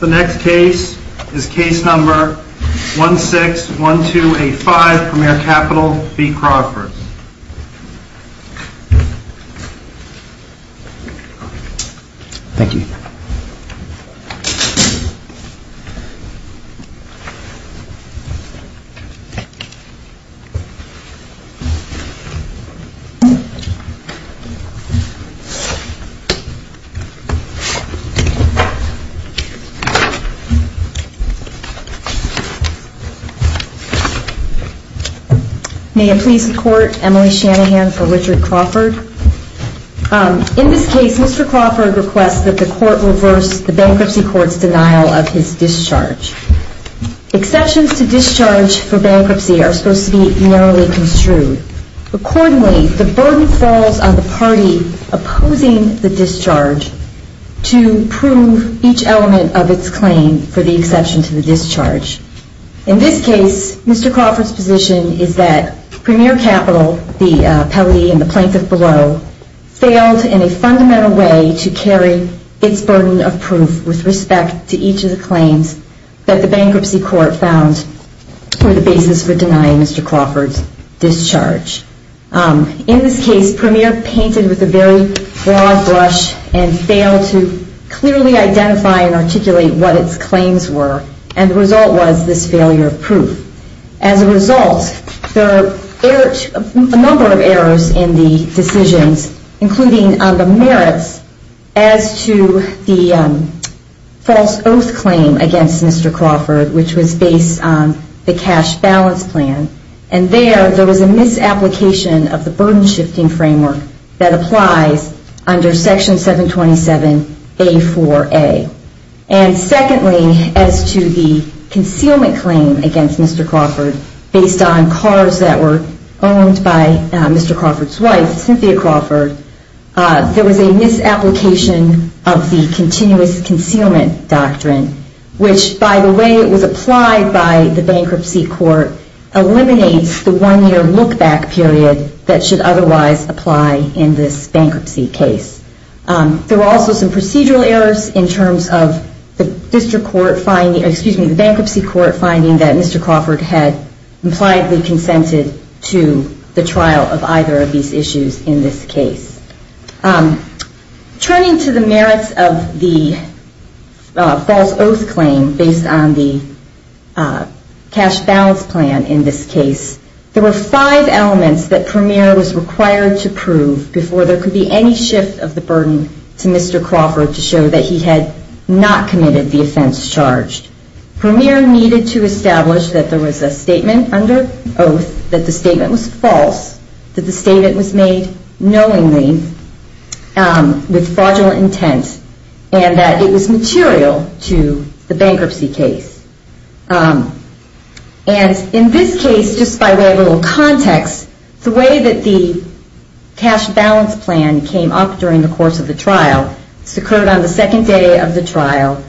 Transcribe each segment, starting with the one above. The next case is case number 161285, Premier Capital v. Crawford. Thank you. May it please the court, Emily Shanahan for Richard Crawford. In this case, Mr. Crawford requests that the court reverse the bankruptcy court's denial of his discharge. Exceptions to discharge for bankruptcy are supposed to be narrowly construed. Accordingly, the burden falls on the party opposing the discharge to prove each element of its claim for the exception to the discharge. In this case, Mr. Crawford's position is that Premier Capital, the appellee and the plaintiff below, failed in a fundamental way to carry its burden of proof with respect to each of the claims that the bankruptcy court found were the basis for denying Mr. Crawford's discharge. In this case, Premier painted with a very broad brush and failed to clearly identify and articulate what its claims were. And the result was this failure of proof. As a result, there are a number of errors in the decisions, including the merits as to the false oath claim against Mr. Crawford, which was based on the cash balance plan. And there, there was a misapplication of the burden shifting framework that applies under Section 727A4A. And secondly, as to the concealment claim against Mr. Crawford, based on cars that were owned by Mr. Crawford's wife, Cynthia Crawford, there was a misapplication of the continuous concealment doctrine, which, by the way it was applied by the bankruptcy court, eliminates the one-year look-back period that should otherwise apply in this bankruptcy case. There were also some procedural errors in terms of the bankruptcy court finding that Mr. Crawford had impliedly consented to the trial of either of these issues in this case. Turning to the merits of the false oath claim based on the cash balance plan in this case, there were five elements that Premier was required to prove before there could be any shift of the burden to Mr. Crawford to show that he had not committed the offense charged. Premier needed to establish that there was a statement under oath that the statement was false, that the statement was made knowingly with fraudulent intent, and that it was material to the bankruptcy case. And in this case, just by way of a little context, the way that the cash balance plan came up during the course of the trial, this occurred on the second day of the trial,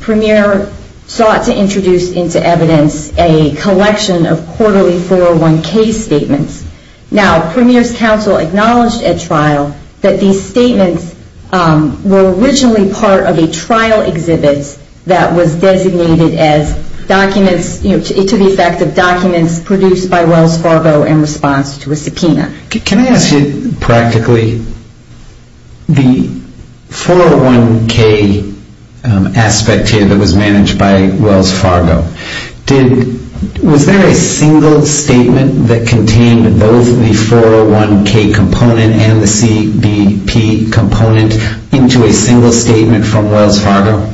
Premier sought to introduce into evidence a collection of quarterly 401K statements. Now, Premier's counsel acknowledged at trial that these statements were originally part of a trial exhibit that was designated as documents, you know, to the effect of documents produced by Wells Fargo in response to a subpoena. Can I ask you practically, the 401K aspect here that was managed by Wells Fargo, was there a single statement that contained both the 401K component and the CBP component into a single statement from Wells Fargo?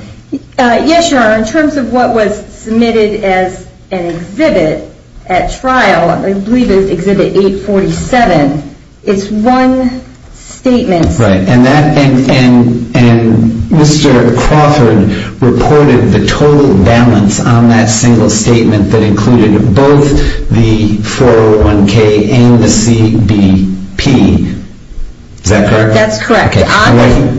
Yes, sir. In terms of what was submitted as an exhibit at trial, I believe it was exhibit 847, it's one statement. Right. And Mr. Crawford reported the total balance on that single statement that included both the 401K and the CBP. Is that correct? That's correct.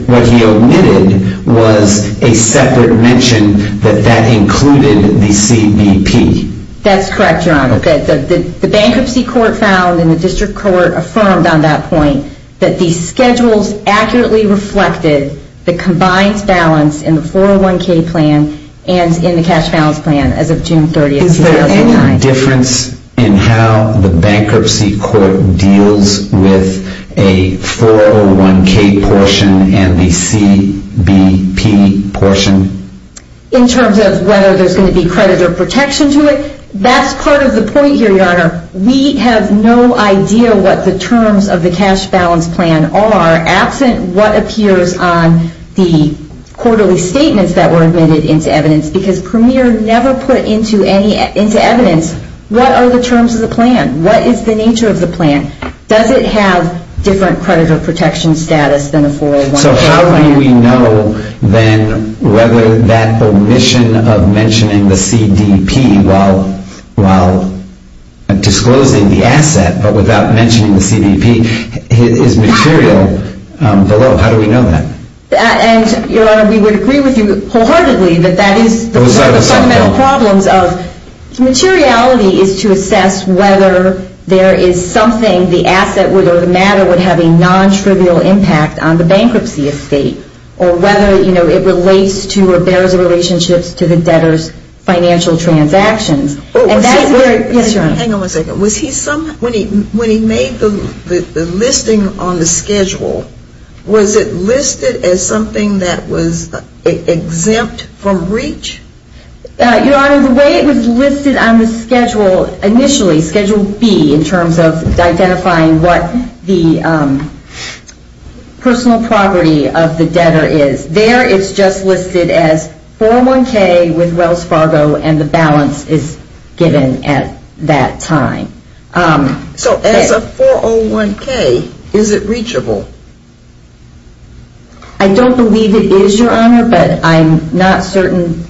What he omitted was a separate mention that that included the CBP. That's correct, Your Honor. Okay. The bankruptcy court found and the district court affirmed on that point that these schedules accurately reflected the combined balance in the 401K plan Is there any difference in how the bankruptcy court deals with a 401K portion and the CBP portion? In terms of whether there's going to be credit or protection to it, that's part of the point here, Your Honor. We have no idea what the terms of the cash balance plan are absent what appears on the quarterly statements that were admitted into evidence because Premier never put into evidence what are the terms of the plan? What is the nature of the plan? Does it have different credit or protection status than the 401K plan? So how do we know then whether that omission of mentioning the CBP while disclosing the asset but without mentioning the CBP is material below? How do we know that? Your Honor, we would agree with you wholeheartedly that that is one of the fundamental problems of materiality is to assess whether there is something, the asset or the matter would have a non-trivial impact on the bankruptcy estate or whether it relates to or bears a relationship to the debtor's financial transactions. Hang on one second. When he made the listing on the schedule, was it listed as something that was exempt from breach? Your Honor, the way it was listed on the schedule initially, Schedule B in terms of identifying what the personal property of the debtor is, there it's just listed as 401K with Wells Fargo and the balance is given at that time. So as a 401K, is it reachable? I don't believe it is, Your Honor, but I'm not certain.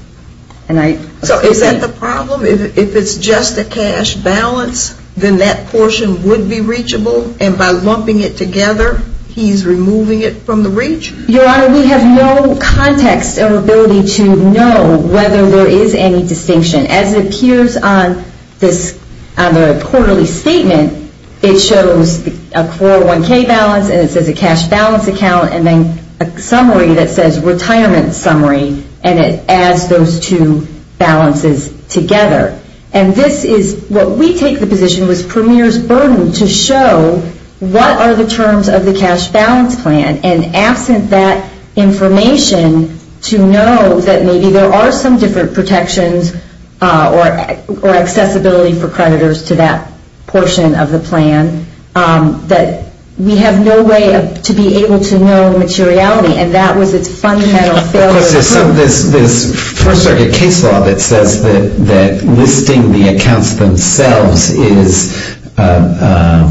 So is that the problem? If it's just a cash balance, then that portion would be reachable? And by lumping it together, he's removing it from the reach? Your Honor, we have no context or ability to know whether there is any distinction. As it appears on the quarterly statement, it shows a 401K balance and it says a cash balance account and then a summary that says retirement summary, and it adds those two balances together. And this is what we take the position was Premier's burden to show what are the terms of the cash balance plan, and absent that information to know that maybe there are some different protections or accessibility for creditors to that portion of the plan, that we have no way to be able to know materiality, and that was its fundamental failure. This First Circuit case law that says that listing the accounts themselves is a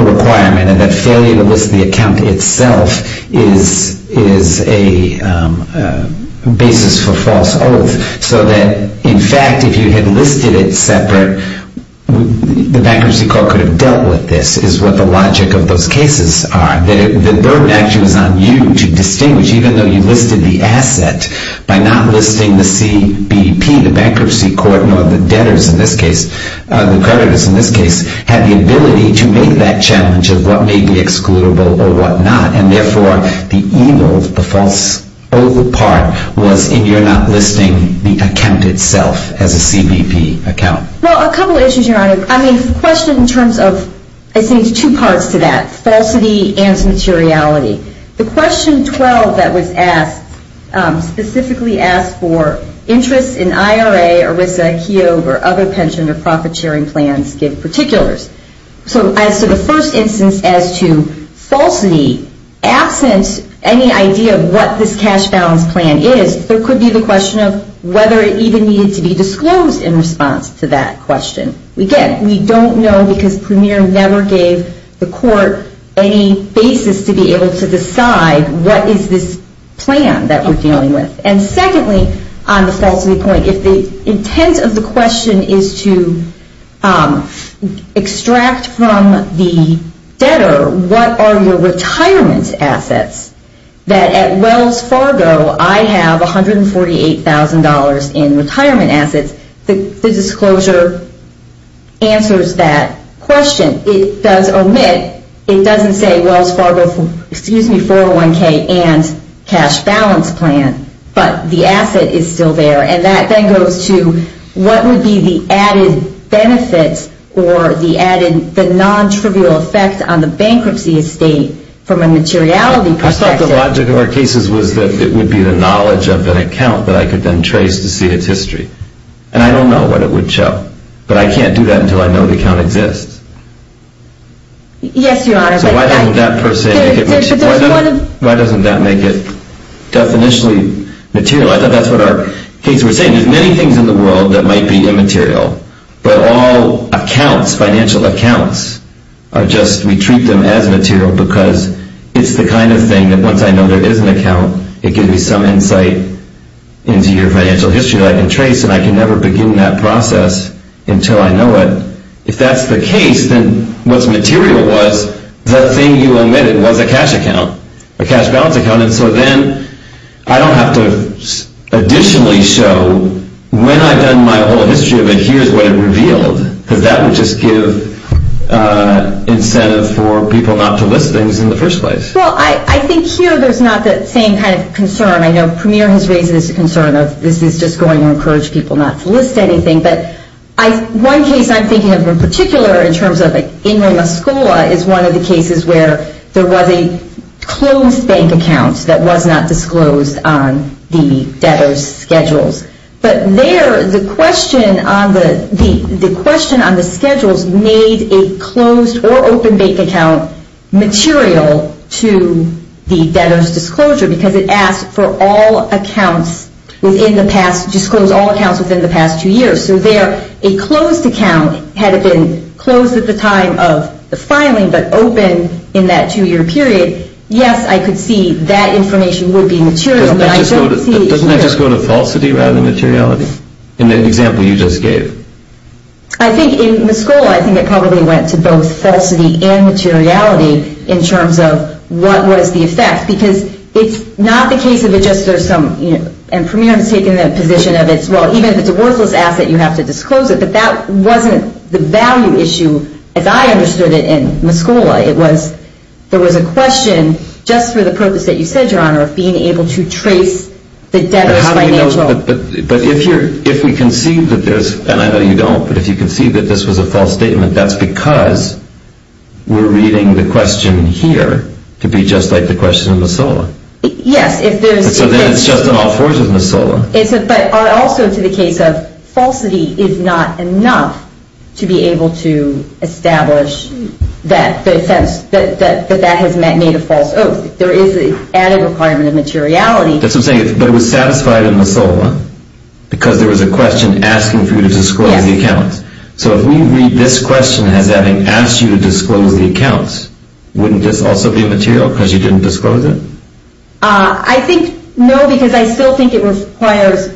requirement and that failure to list the account itself is a basis for false oaths, so that, in fact, if you had listed it separate, the Bankruptcy Court could have dealt with this, is what the logic of those cases are. The burden actually was on you to distinguish, even though you listed the asset, by not listing the CBP, the Bankruptcy Court, nor the debtors in this case, the creditors in this case, had the ability to make that challenge of what may be excludable or what not, and therefore the evil, the false oath part was in your not listing the account itself as a CBP account. Well, a couple of issues, Your Honor. I mean, the question in terms of, I think there's two parts to that, falsity and materiality. The question 12 that was asked, specifically asked for interest in IRA, ERISA, KEOG, or other pension or profit sharing plans give particulars. So as to the first instance as to falsity, absent any idea of what this cash balance plan is, there could be the question of whether it even needed to be disclosed in response to that question. Again, we don't know because Premier never gave the court any basis to be able to decide what is this plan that we're dealing with. And secondly, on the falsity point, if the intent of the question is to extract from the debtor what are your retirement assets, that at Wells Fargo I have $148,000 in retirement assets, the disclosure answers that question. It does omit, it doesn't say Wells Fargo, excuse me, 401K and cash balance plan, but the asset is still there. And that then goes to what would be the added benefits or the added, the nontrivial effect on the bankruptcy estate from a materiality perspective. I thought the logic of our cases was that it would be the knowledge of an account that I could then trace to see its history. And I don't know what it would show. But I can't do that until I know the account exists. Yes, Your Honor. So why doesn't that person, why doesn't that make it definitionally material? I thought that's what our case, we're saying there's many things in the world that might be immaterial, but all accounts, financial accounts are just, we treat them as material because it's the kind of thing that once I know there is an account, it gives me some insight into your financial history that I can trace and I can never begin that process until I know it. If that's the case, then what's material was the thing you omitted was a cash account, a cash balance account. And so then I don't have to additionally show when I've done my whole history of it, Well, I think here there's not the same kind of concern. I know Premier has raised this concern of this is just going to encourage people not to list anything. But one case I'm thinking of in particular in terms of like Ingram-Muscola is one of the cases where there was a closed bank account that was not disclosed on the debtor's schedules. But there the question on the schedules made a closed or open bank account material to the debtor's disclosure because it asked for all accounts within the past, disclose all accounts within the past two years. So there a closed account had it been closed at the time of the filing but open in that two-year period, yes, I could see that information would be material, but I don't see Doesn't that just go to falsity rather than materiality in the example you just gave? I think in Muscola, I think it probably went to both falsity and materiality in terms of what was the effect because it's not the case of it just there's some, and Premier has taken that position of it's, well, even if it's a worthless asset, you have to disclose it. But that wasn't the value issue as I understood it in Muscola. It was there was a question just for the purpose that you said, Your Honor, of being able to trace the debtor's financial. But if we can see that there's, and I know you don't, but if you can see that this was a false statement, that's because we're reading the question here to be just like the question in Muscola. Yes, if there's So then it's just an all-fours of Muscola. But also to the case of falsity is not enough to be able to establish that that has made a false oath. There is an added requirement of materiality. That's what I'm saying. But it was satisfied in Muscola because there was a question asking for you to disclose the accounts. Yes. So if we read this question as having asked you to disclose the accounts, wouldn't this also be material because you didn't disclose it? I think, no, because I still think it requires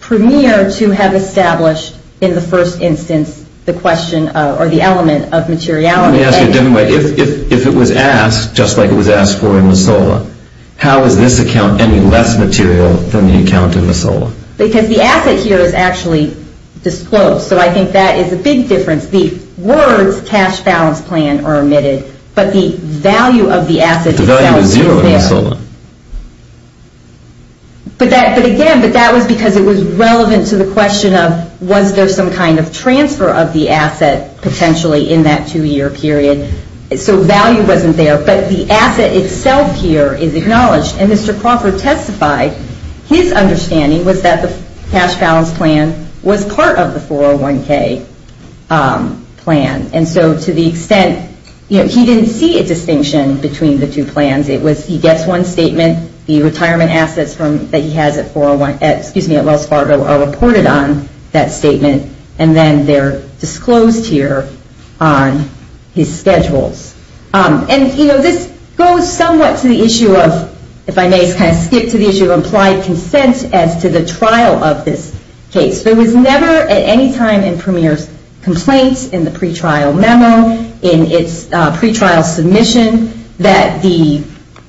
Premier to have established in the first instance the question or the element of materiality. Let me ask you a different way. If it was asked, just like it was asked for in Muscola, how is this account any less material than the account in Muscola? Because the asset here is actually disclosed. So I think that is a big difference. The words cash balance plan are omitted, but the value of the asset itself is there. The value is zero in Muscola. But again, that was because it was relevant to the question of was there some kind of transfer of the asset potentially in that two-year period. So value wasn't there, but the asset itself here is acknowledged. And Mr. Crawford testified his understanding was that the cash balance plan was part of the 401k plan. And so to the extent, you know, he didn't see a distinction between the two plans. It was he gets one statement, the retirement assets that he has at 401, excuse me, at Wells Fargo are reported on that statement, and then they're disclosed here on his schedules. And, you know, this goes somewhat to the issue of, if I may kind of skip to the issue of implied consent as to the trial of this case. There was never at any time in Premier's complaints in the pretrial memo, in its pretrial submission, that the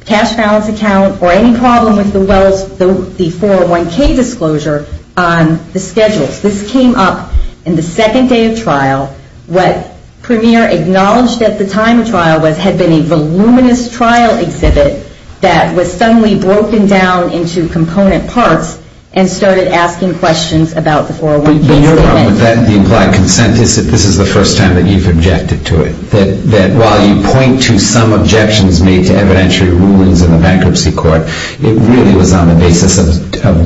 cash balance account or any problem with the 401k disclosure on the schedules. This came up in the second day of trial. What Premier acknowledged at the time of trial was had been a voluminous trial exhibit that was suddenly broken down into component parts and started asking questions about the 401k statement. The implied consent is that this is the first time that you've objected to it, that while you point to some objections made to evidentiary rulings in the bankruptcy court, it really was on the basis of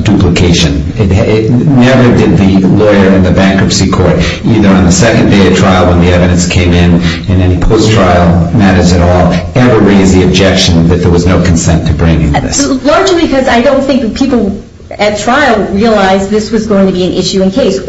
duplication. It never did the lawyer in the bankruptcy court, either on the second day of trial when the evidence came in, in any post-trial matters at all, ever raise the objection that there was no consent to bringing this. Largely because I don't think people at trial realized this was going to be an issue in case. You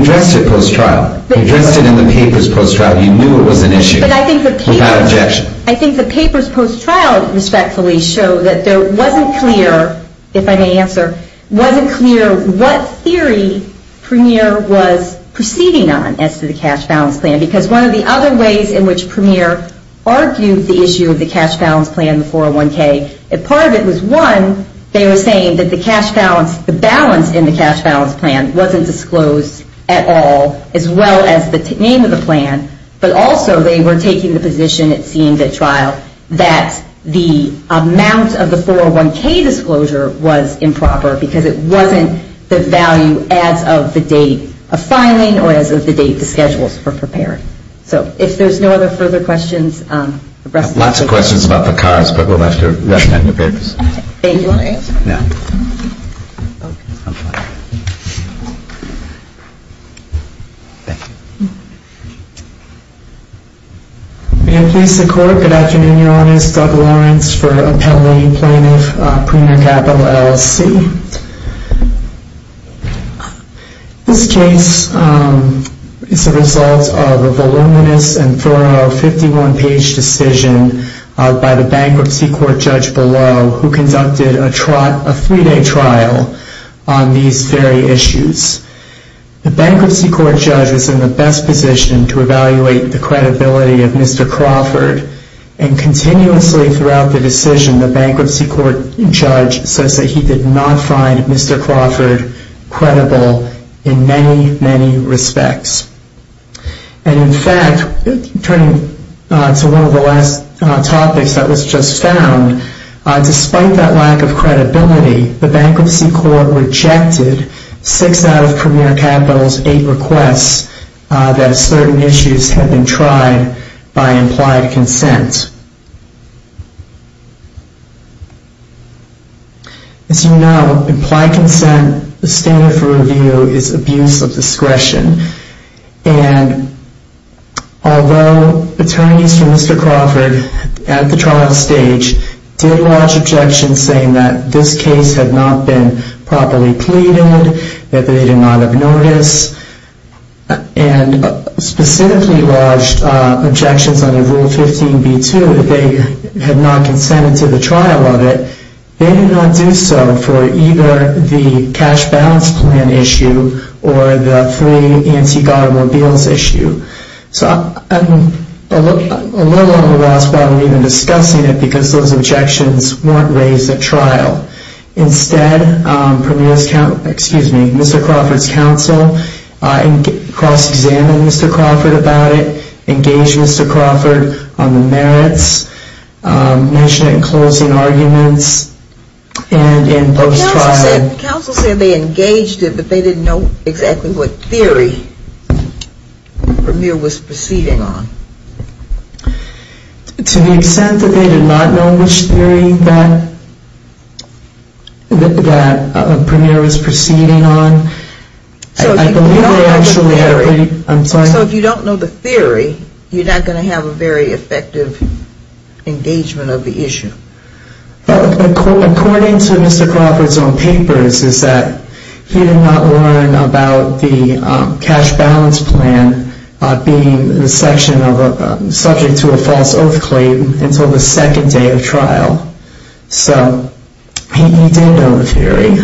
addressed it post-trial. You addressed it in the papers post-trial. You knew it was an issue without objection. I think the papers post-trial, respectfully, show that there wasn't clear, if I may answer, wasn't clear what theory Premier was proceeding on as to the cash balance plan because one of the other ways in which Premier argued the issue of the cash balance plan in the 401k, part of it was, one, they were saying that the balance in the cash balance plan wasn't disclosed at all, as well as the name of the plan, but also they were taking the position, it seemed at trial, that the amount of the 401k disclosure was improper because it wasn't the value as of the date of filing or as of the date the schedules were prepared. So if there's no other further questions. Lots of questions about the cards, but we'll have to recommend the papers. Thank you. Do you want to answer? No. Okay. I'm fine. Thank you. May it please the Court, good afternoon, Your Honors. Doug Lawrence for Appellee Plaintiff, Premier Capital LLC. This case is the result of a voluminous and thorough 51-page decision by the bankruptcy court judge below who conducted a three-day trial on these very issues. The bankruptcy court judge was in the best position to evaluate the credibility of Mr. Crawford, and continuously throughout the decision, the bankruptcy court judge says that he did not find Mr. Crawford credible in many, many respects. And in fact, turning to one of the last topics that was just found, despite that lack of credibility, the bankruptcy court rejected six out of Premier Capital's eight requests that certain issues had been tried by implied consent. As you know, implied consent, the standard for review, is abuse of discretion. And although attorneys for Mr. Crawford at the trial stage did lodge objections saying that this case had not been properly pleaded, that they did not have notice, and specifically lodged objections under Rule 15b-2 that they had not consented to the trial of it, they did not do so for either the cash balance plan issue or the free antique automobiles issue. So I'm a little on the loss about even discussing it because those objections weren't raised at trial. Instead, Mr. Crawford's counsel cross-examined Mr. Crawford about it, engaged Mr. Crawford on the merits, mentioned it in closing arguments, and in post-trial... The counsel said they engaged it, but they didn't know exactly what theory Premier was proceeding on. To the extent that they did not know which theory that Premier was proceeding on... So if you don't know the theory, you're not going to have a very effective engagement of the issue. According to Mr. Crawford's own papers is that he did not learn about the cash balance plan being subject to a false oath claim until the second day of trial. So he did know the theory,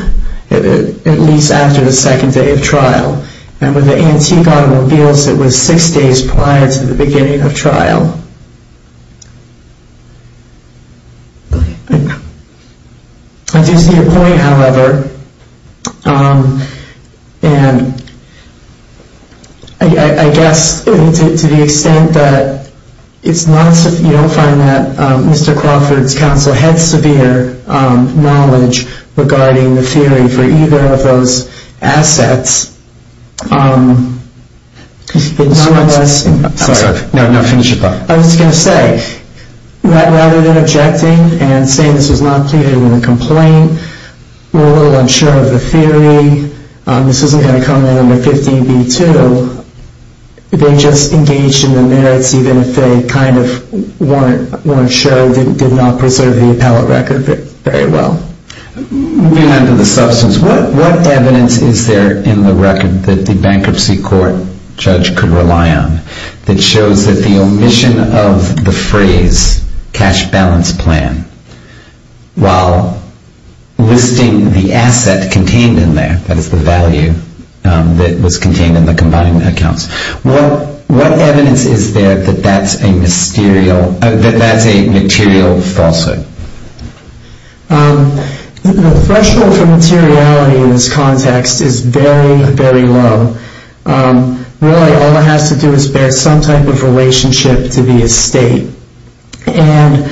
at least after the second day of trial, and with the antique automobiles it was six days prior to the beginning of trial. I do see your point, however, and I guess to the extent that you don't find that Mr. Crawford's counsel had severe knowledge regarding the theory for either of those assets... I was going to say, rather than objecting and saying this was not pleaded in a complaint, we're a little unsure of the theory, this isn't going to come in under 15b-2, they just engaged in the merits even if they kind of weren't sure, did not preserve the appellate record very well. Moving on to the substance, what evidence is there in the record that the bankruptcy court judge could rely on that shows that the omission of the phrase cash balance plan, while listing the asset contained in there, that is the value that was contained in the combined accounts, what evidence is there that that's a material falsehood? The threshold for materiality in this context is very, very low. Really all it has to do is bear some type of relationship to the estate. And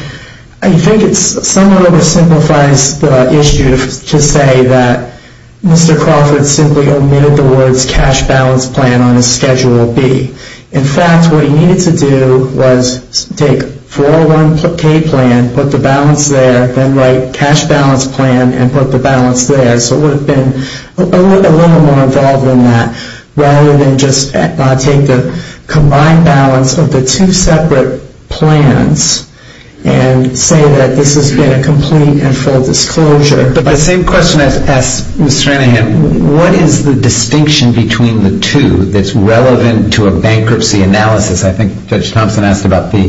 I think it somewhat oversimplifies the issue to say that Mr. Crawford simply omitted the words cash balance plan on his Schedule B. In fact, what he needed to do was take 401k plan, put the balance there, then write cash balance plan and put the balance there. So it would have been a little more involved than that, rather than just take the combined balance of the two separate plans and say that this has been a complete and full disclosure. But the same question asks Mr. Anahan, what is the distinction between the two that's relevant to a bankruptcy analysis? I think Judge Thompson asked about the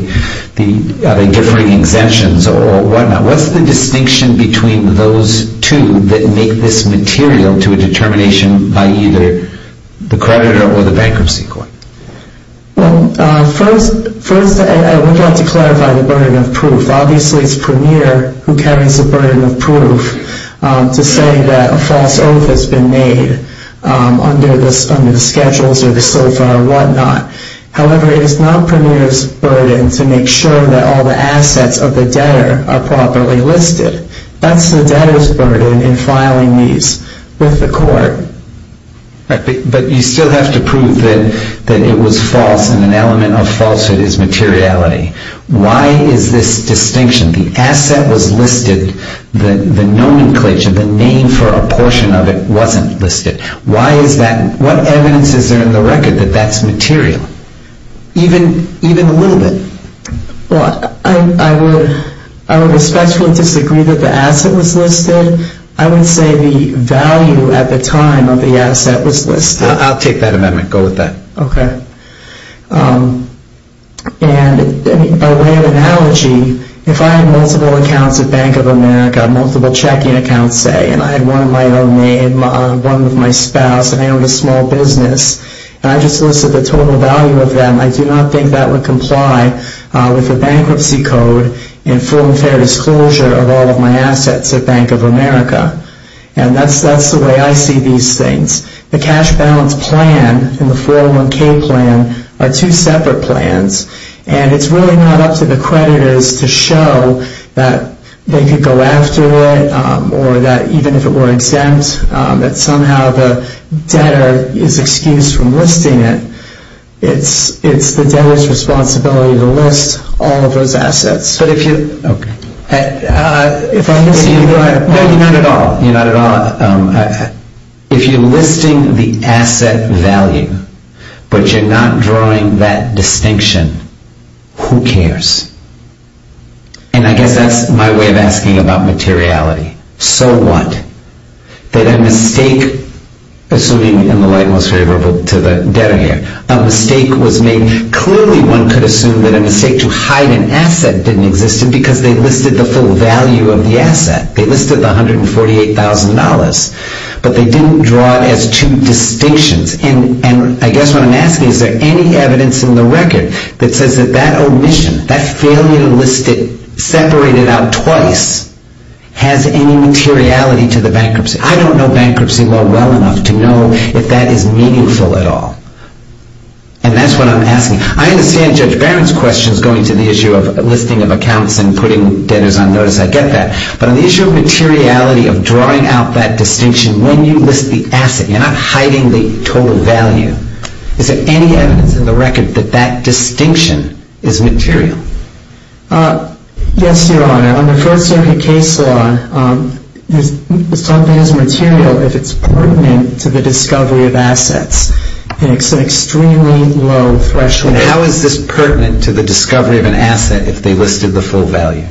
differing exemptions or whatnot. What's the distinction between those two that make this material to a determination by either the creditor or the bankruptcy court? Well, first I would have to clarify the burden of proof. Obviously it's Premier who carries the burden of proof to say that a false oath has been made under the schedules or the SOFA or whatnot. However, it is not Premier's burden to make sure that all the assets of the debtor are properly listed. That's the debtor's burden in filing these with the court. But you still have to prove that it was false and an element of falsehood is materiality. Why is this distinction? The asset was listed. The nomenclature, the name for a portion of it wasn't listed. Why is that? What evidence is there in the record that that's material? Even a little bit. Well, I would especially disagree that the asset was listed. I would say the value at the time of the asset was listed. I'll take that amendment. Go with that. Okay. And by way of analogy, if I had multiple accounts at Bank of America, multiple checking accounts, say, and I had one of my own name, one of my spouse, and I owned a small business, and I just listed the total value of them, I do not think that would comply with the bankruptcy code and full and fair disclosure of all of my assets at Bank of America. And that's the way I see these things. The cash balance plan and the 401K plan are two separate plans, and it's really not up to the creditors to show that they could go after it or that even if it were exempt, that somehow the debtor is excused from listing it. It's the debtor's responsibility to list all of those assets. But if you – Okay. If I'm mis- No, you're not at all. You're not at all. If you're listing the asset value but you're not drawing that distinction, who cares? And I guess that's my way of asking about materiality. So what? That a mistake, assuming in the light most favorable to the debtor here, a mistake was made. Clearly one could assume that a mistake to hide an asset didn't exist because they listed the full value of the asset. They listed the $148,000, but they didn't draw it as two distinctions. And I guess what I'm asking is, is there any evidence in the record that says that that omission, that failure to list it separated out twice, has any materiality to the bankruptcy? I don't know bankruptcy law well enough to know if that is meaningful at all. And that's what I'm asking. I understand Judge Barron's questions going to the issue of listing of accounts and putting debtors on notice. I get that. But on the issue of materiality of drawing out that distinction when you list the asset, you're not hiding the total value. Is there any evidence in the record that that distinction is material? Yes, Your Honor. Under First Circuit case law, something is material if it's pertinent to the discovery of assets. It's an extremely low threshold. How is this pertinent to the discovery of an asset if they listed the full value?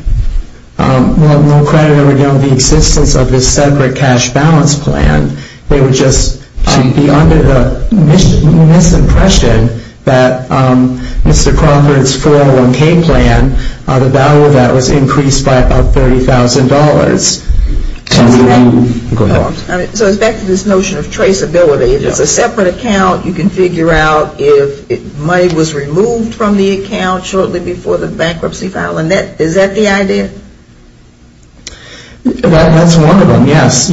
Well, no creditor would know the existence of this separate cash balance plan. They would just be under the misimpression that Mr. Crawford's 401K plan, the value of that was increased by about $30,000. So it's back to this notion of traceability. If it's a separate account, you can figure out if money was removed from the account shortly before the bankruptcy file. Is that the idea? That's one of them, yes.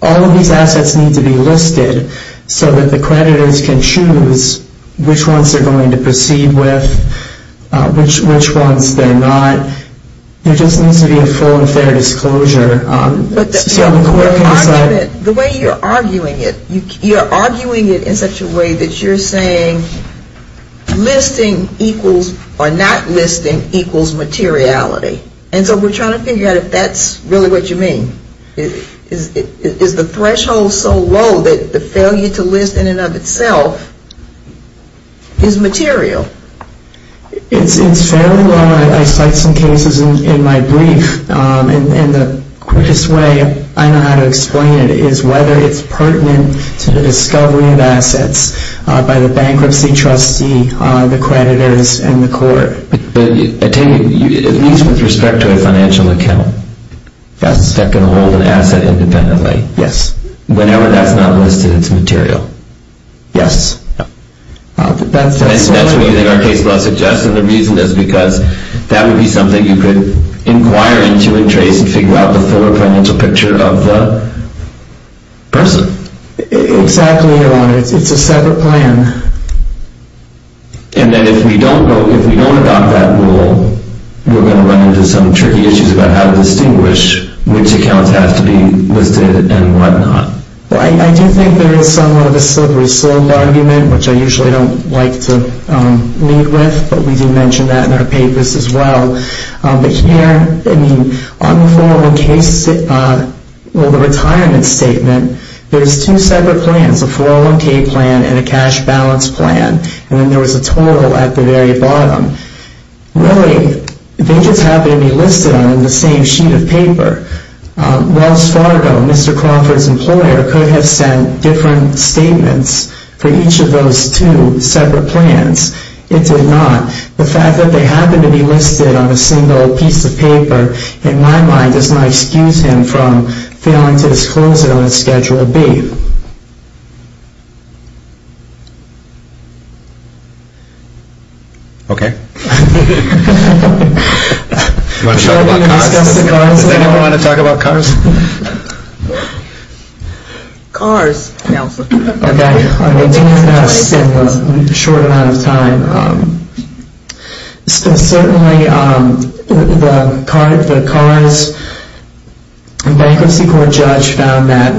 All of these assets need to be listed so that the creditors can choose which ones they're going to proceed with, which ones they're not. There just needs to be a full and fair disclosure. The way you're arguing it, you're arguing it in such a way that you're saying listing equals or not listing equals materiality. And so we're trying to figure out if that's really what you mean. Is the threshold so low that the failure to list in and of itself is material? It's fairly low. I cite some cases in my brief. And the quickest way I know how to explain it is whether it's pertinent to the discovery of assets by the bankruptcy trustee, the creditors, and the court. But at least with respect to a financial account, is that going to hold an asset independently? Yes. Whenever that's not listed, it's material? Yes. That's what you think our case law suggests, and the reason is because that would be something you could inquire into and trace and figure out the full financial picture of the person. Exactly, Your Honor. It's a separate plan. And then if we don't adopt that rule, we're going to run into some tricky issues about how to distinguish which accounts have to be listed and whatnot. I do think there is somewhat of a slippery slope argument, which I usually don't like to lead with, but we do mention that in our papers as well. But here, on the 401k, well, the retirement statement, there's two separate plans, a 401k plan and a cash balance plan. And then there was a total at the very bottom. Really, they just happen to be listed on the same sheet of paper. Wells Fargo, Mr. Crawford's employer, could have sent different statements for each of those two separate plans. It did not. The fact that they happen to be listed on a single piece of paper, in my mind, does not excuse him from failing to disclose it on a Schedule B. Okay. Do you want to talk about cars? Does anyone want to talk about cars? Cars, Nelson. Okay. I'm going to do this in a short amount of time. Certainly, the cars, the bankruptcy court judge found that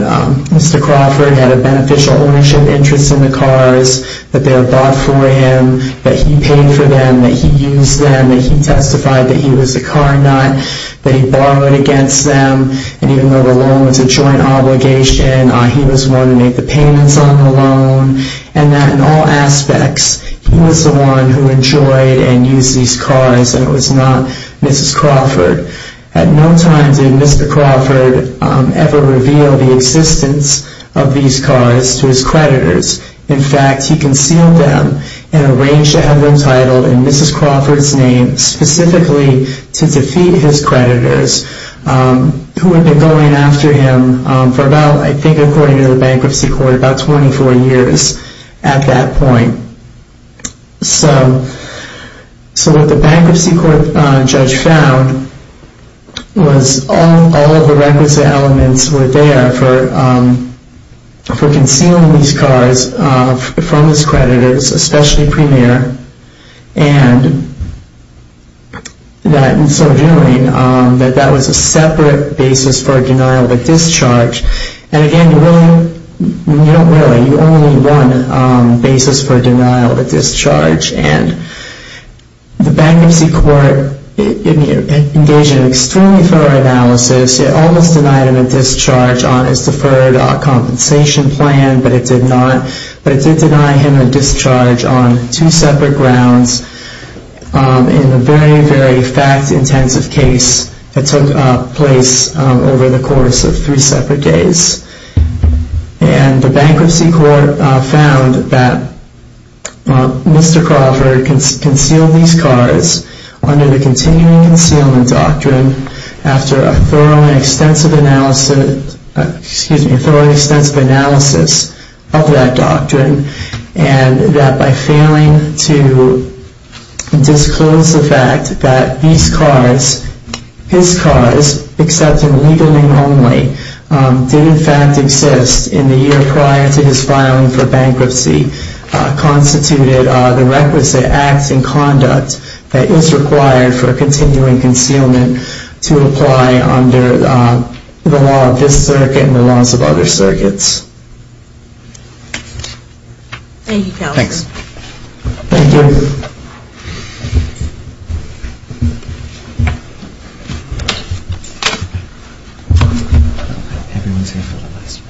Mr. Crawford had a beneficial ownership interest in the cars, that they were bought for him, that he paid for them, that he used them, that he testified that he was a car nut, that he borrowed against them, and even though the loan was a joint obligation, he was the one who made the payments on the loan, and that in all aspects, he was the one who enjoyed and used these cars, and it was not Mrs. Crawford. At no time did Mr. Crawford ever reveal the existence of these cars to his creditors. In fact, he concealed them and arranged to have them titled in Mrs. Crawford's name, specifically to defeat his creditors, who had been going after him for about, I think according to the bankruptcy court, about 24 years at that point. So what the bankruptcy court judge found was all of the records and elements were there for concealing these cars from his creditors, especially Premier, and that in so doing, that that was a separate basis for a denial of the discharge, and again, you don't really, you only need one basis for a denial of the discharge, and the bankruptcy court engaged in an extremely thorough analysis, it almost denied him a discharge on his deferred compensation plan, but it did not, but it did deny him a discharge on two separate grounds in a very, very fact-intensive case that took place over the course of three separate days. And the bankruptcy court found that Mr. Crawford concealed these cars under the continuing concealment doctrine after a thorough and extensive analysis of that doctrine, and that by failing to disclose the fact that these cars, his cars, except in legal name only, did in fact exist in the year prior to his filing for bankruptcy, constituted the requisite acts and conduct that is required for continuing concealment to apply under the law of this circuit and the laws of other circuits. Thank you, Councillor. Thanks. Thank you.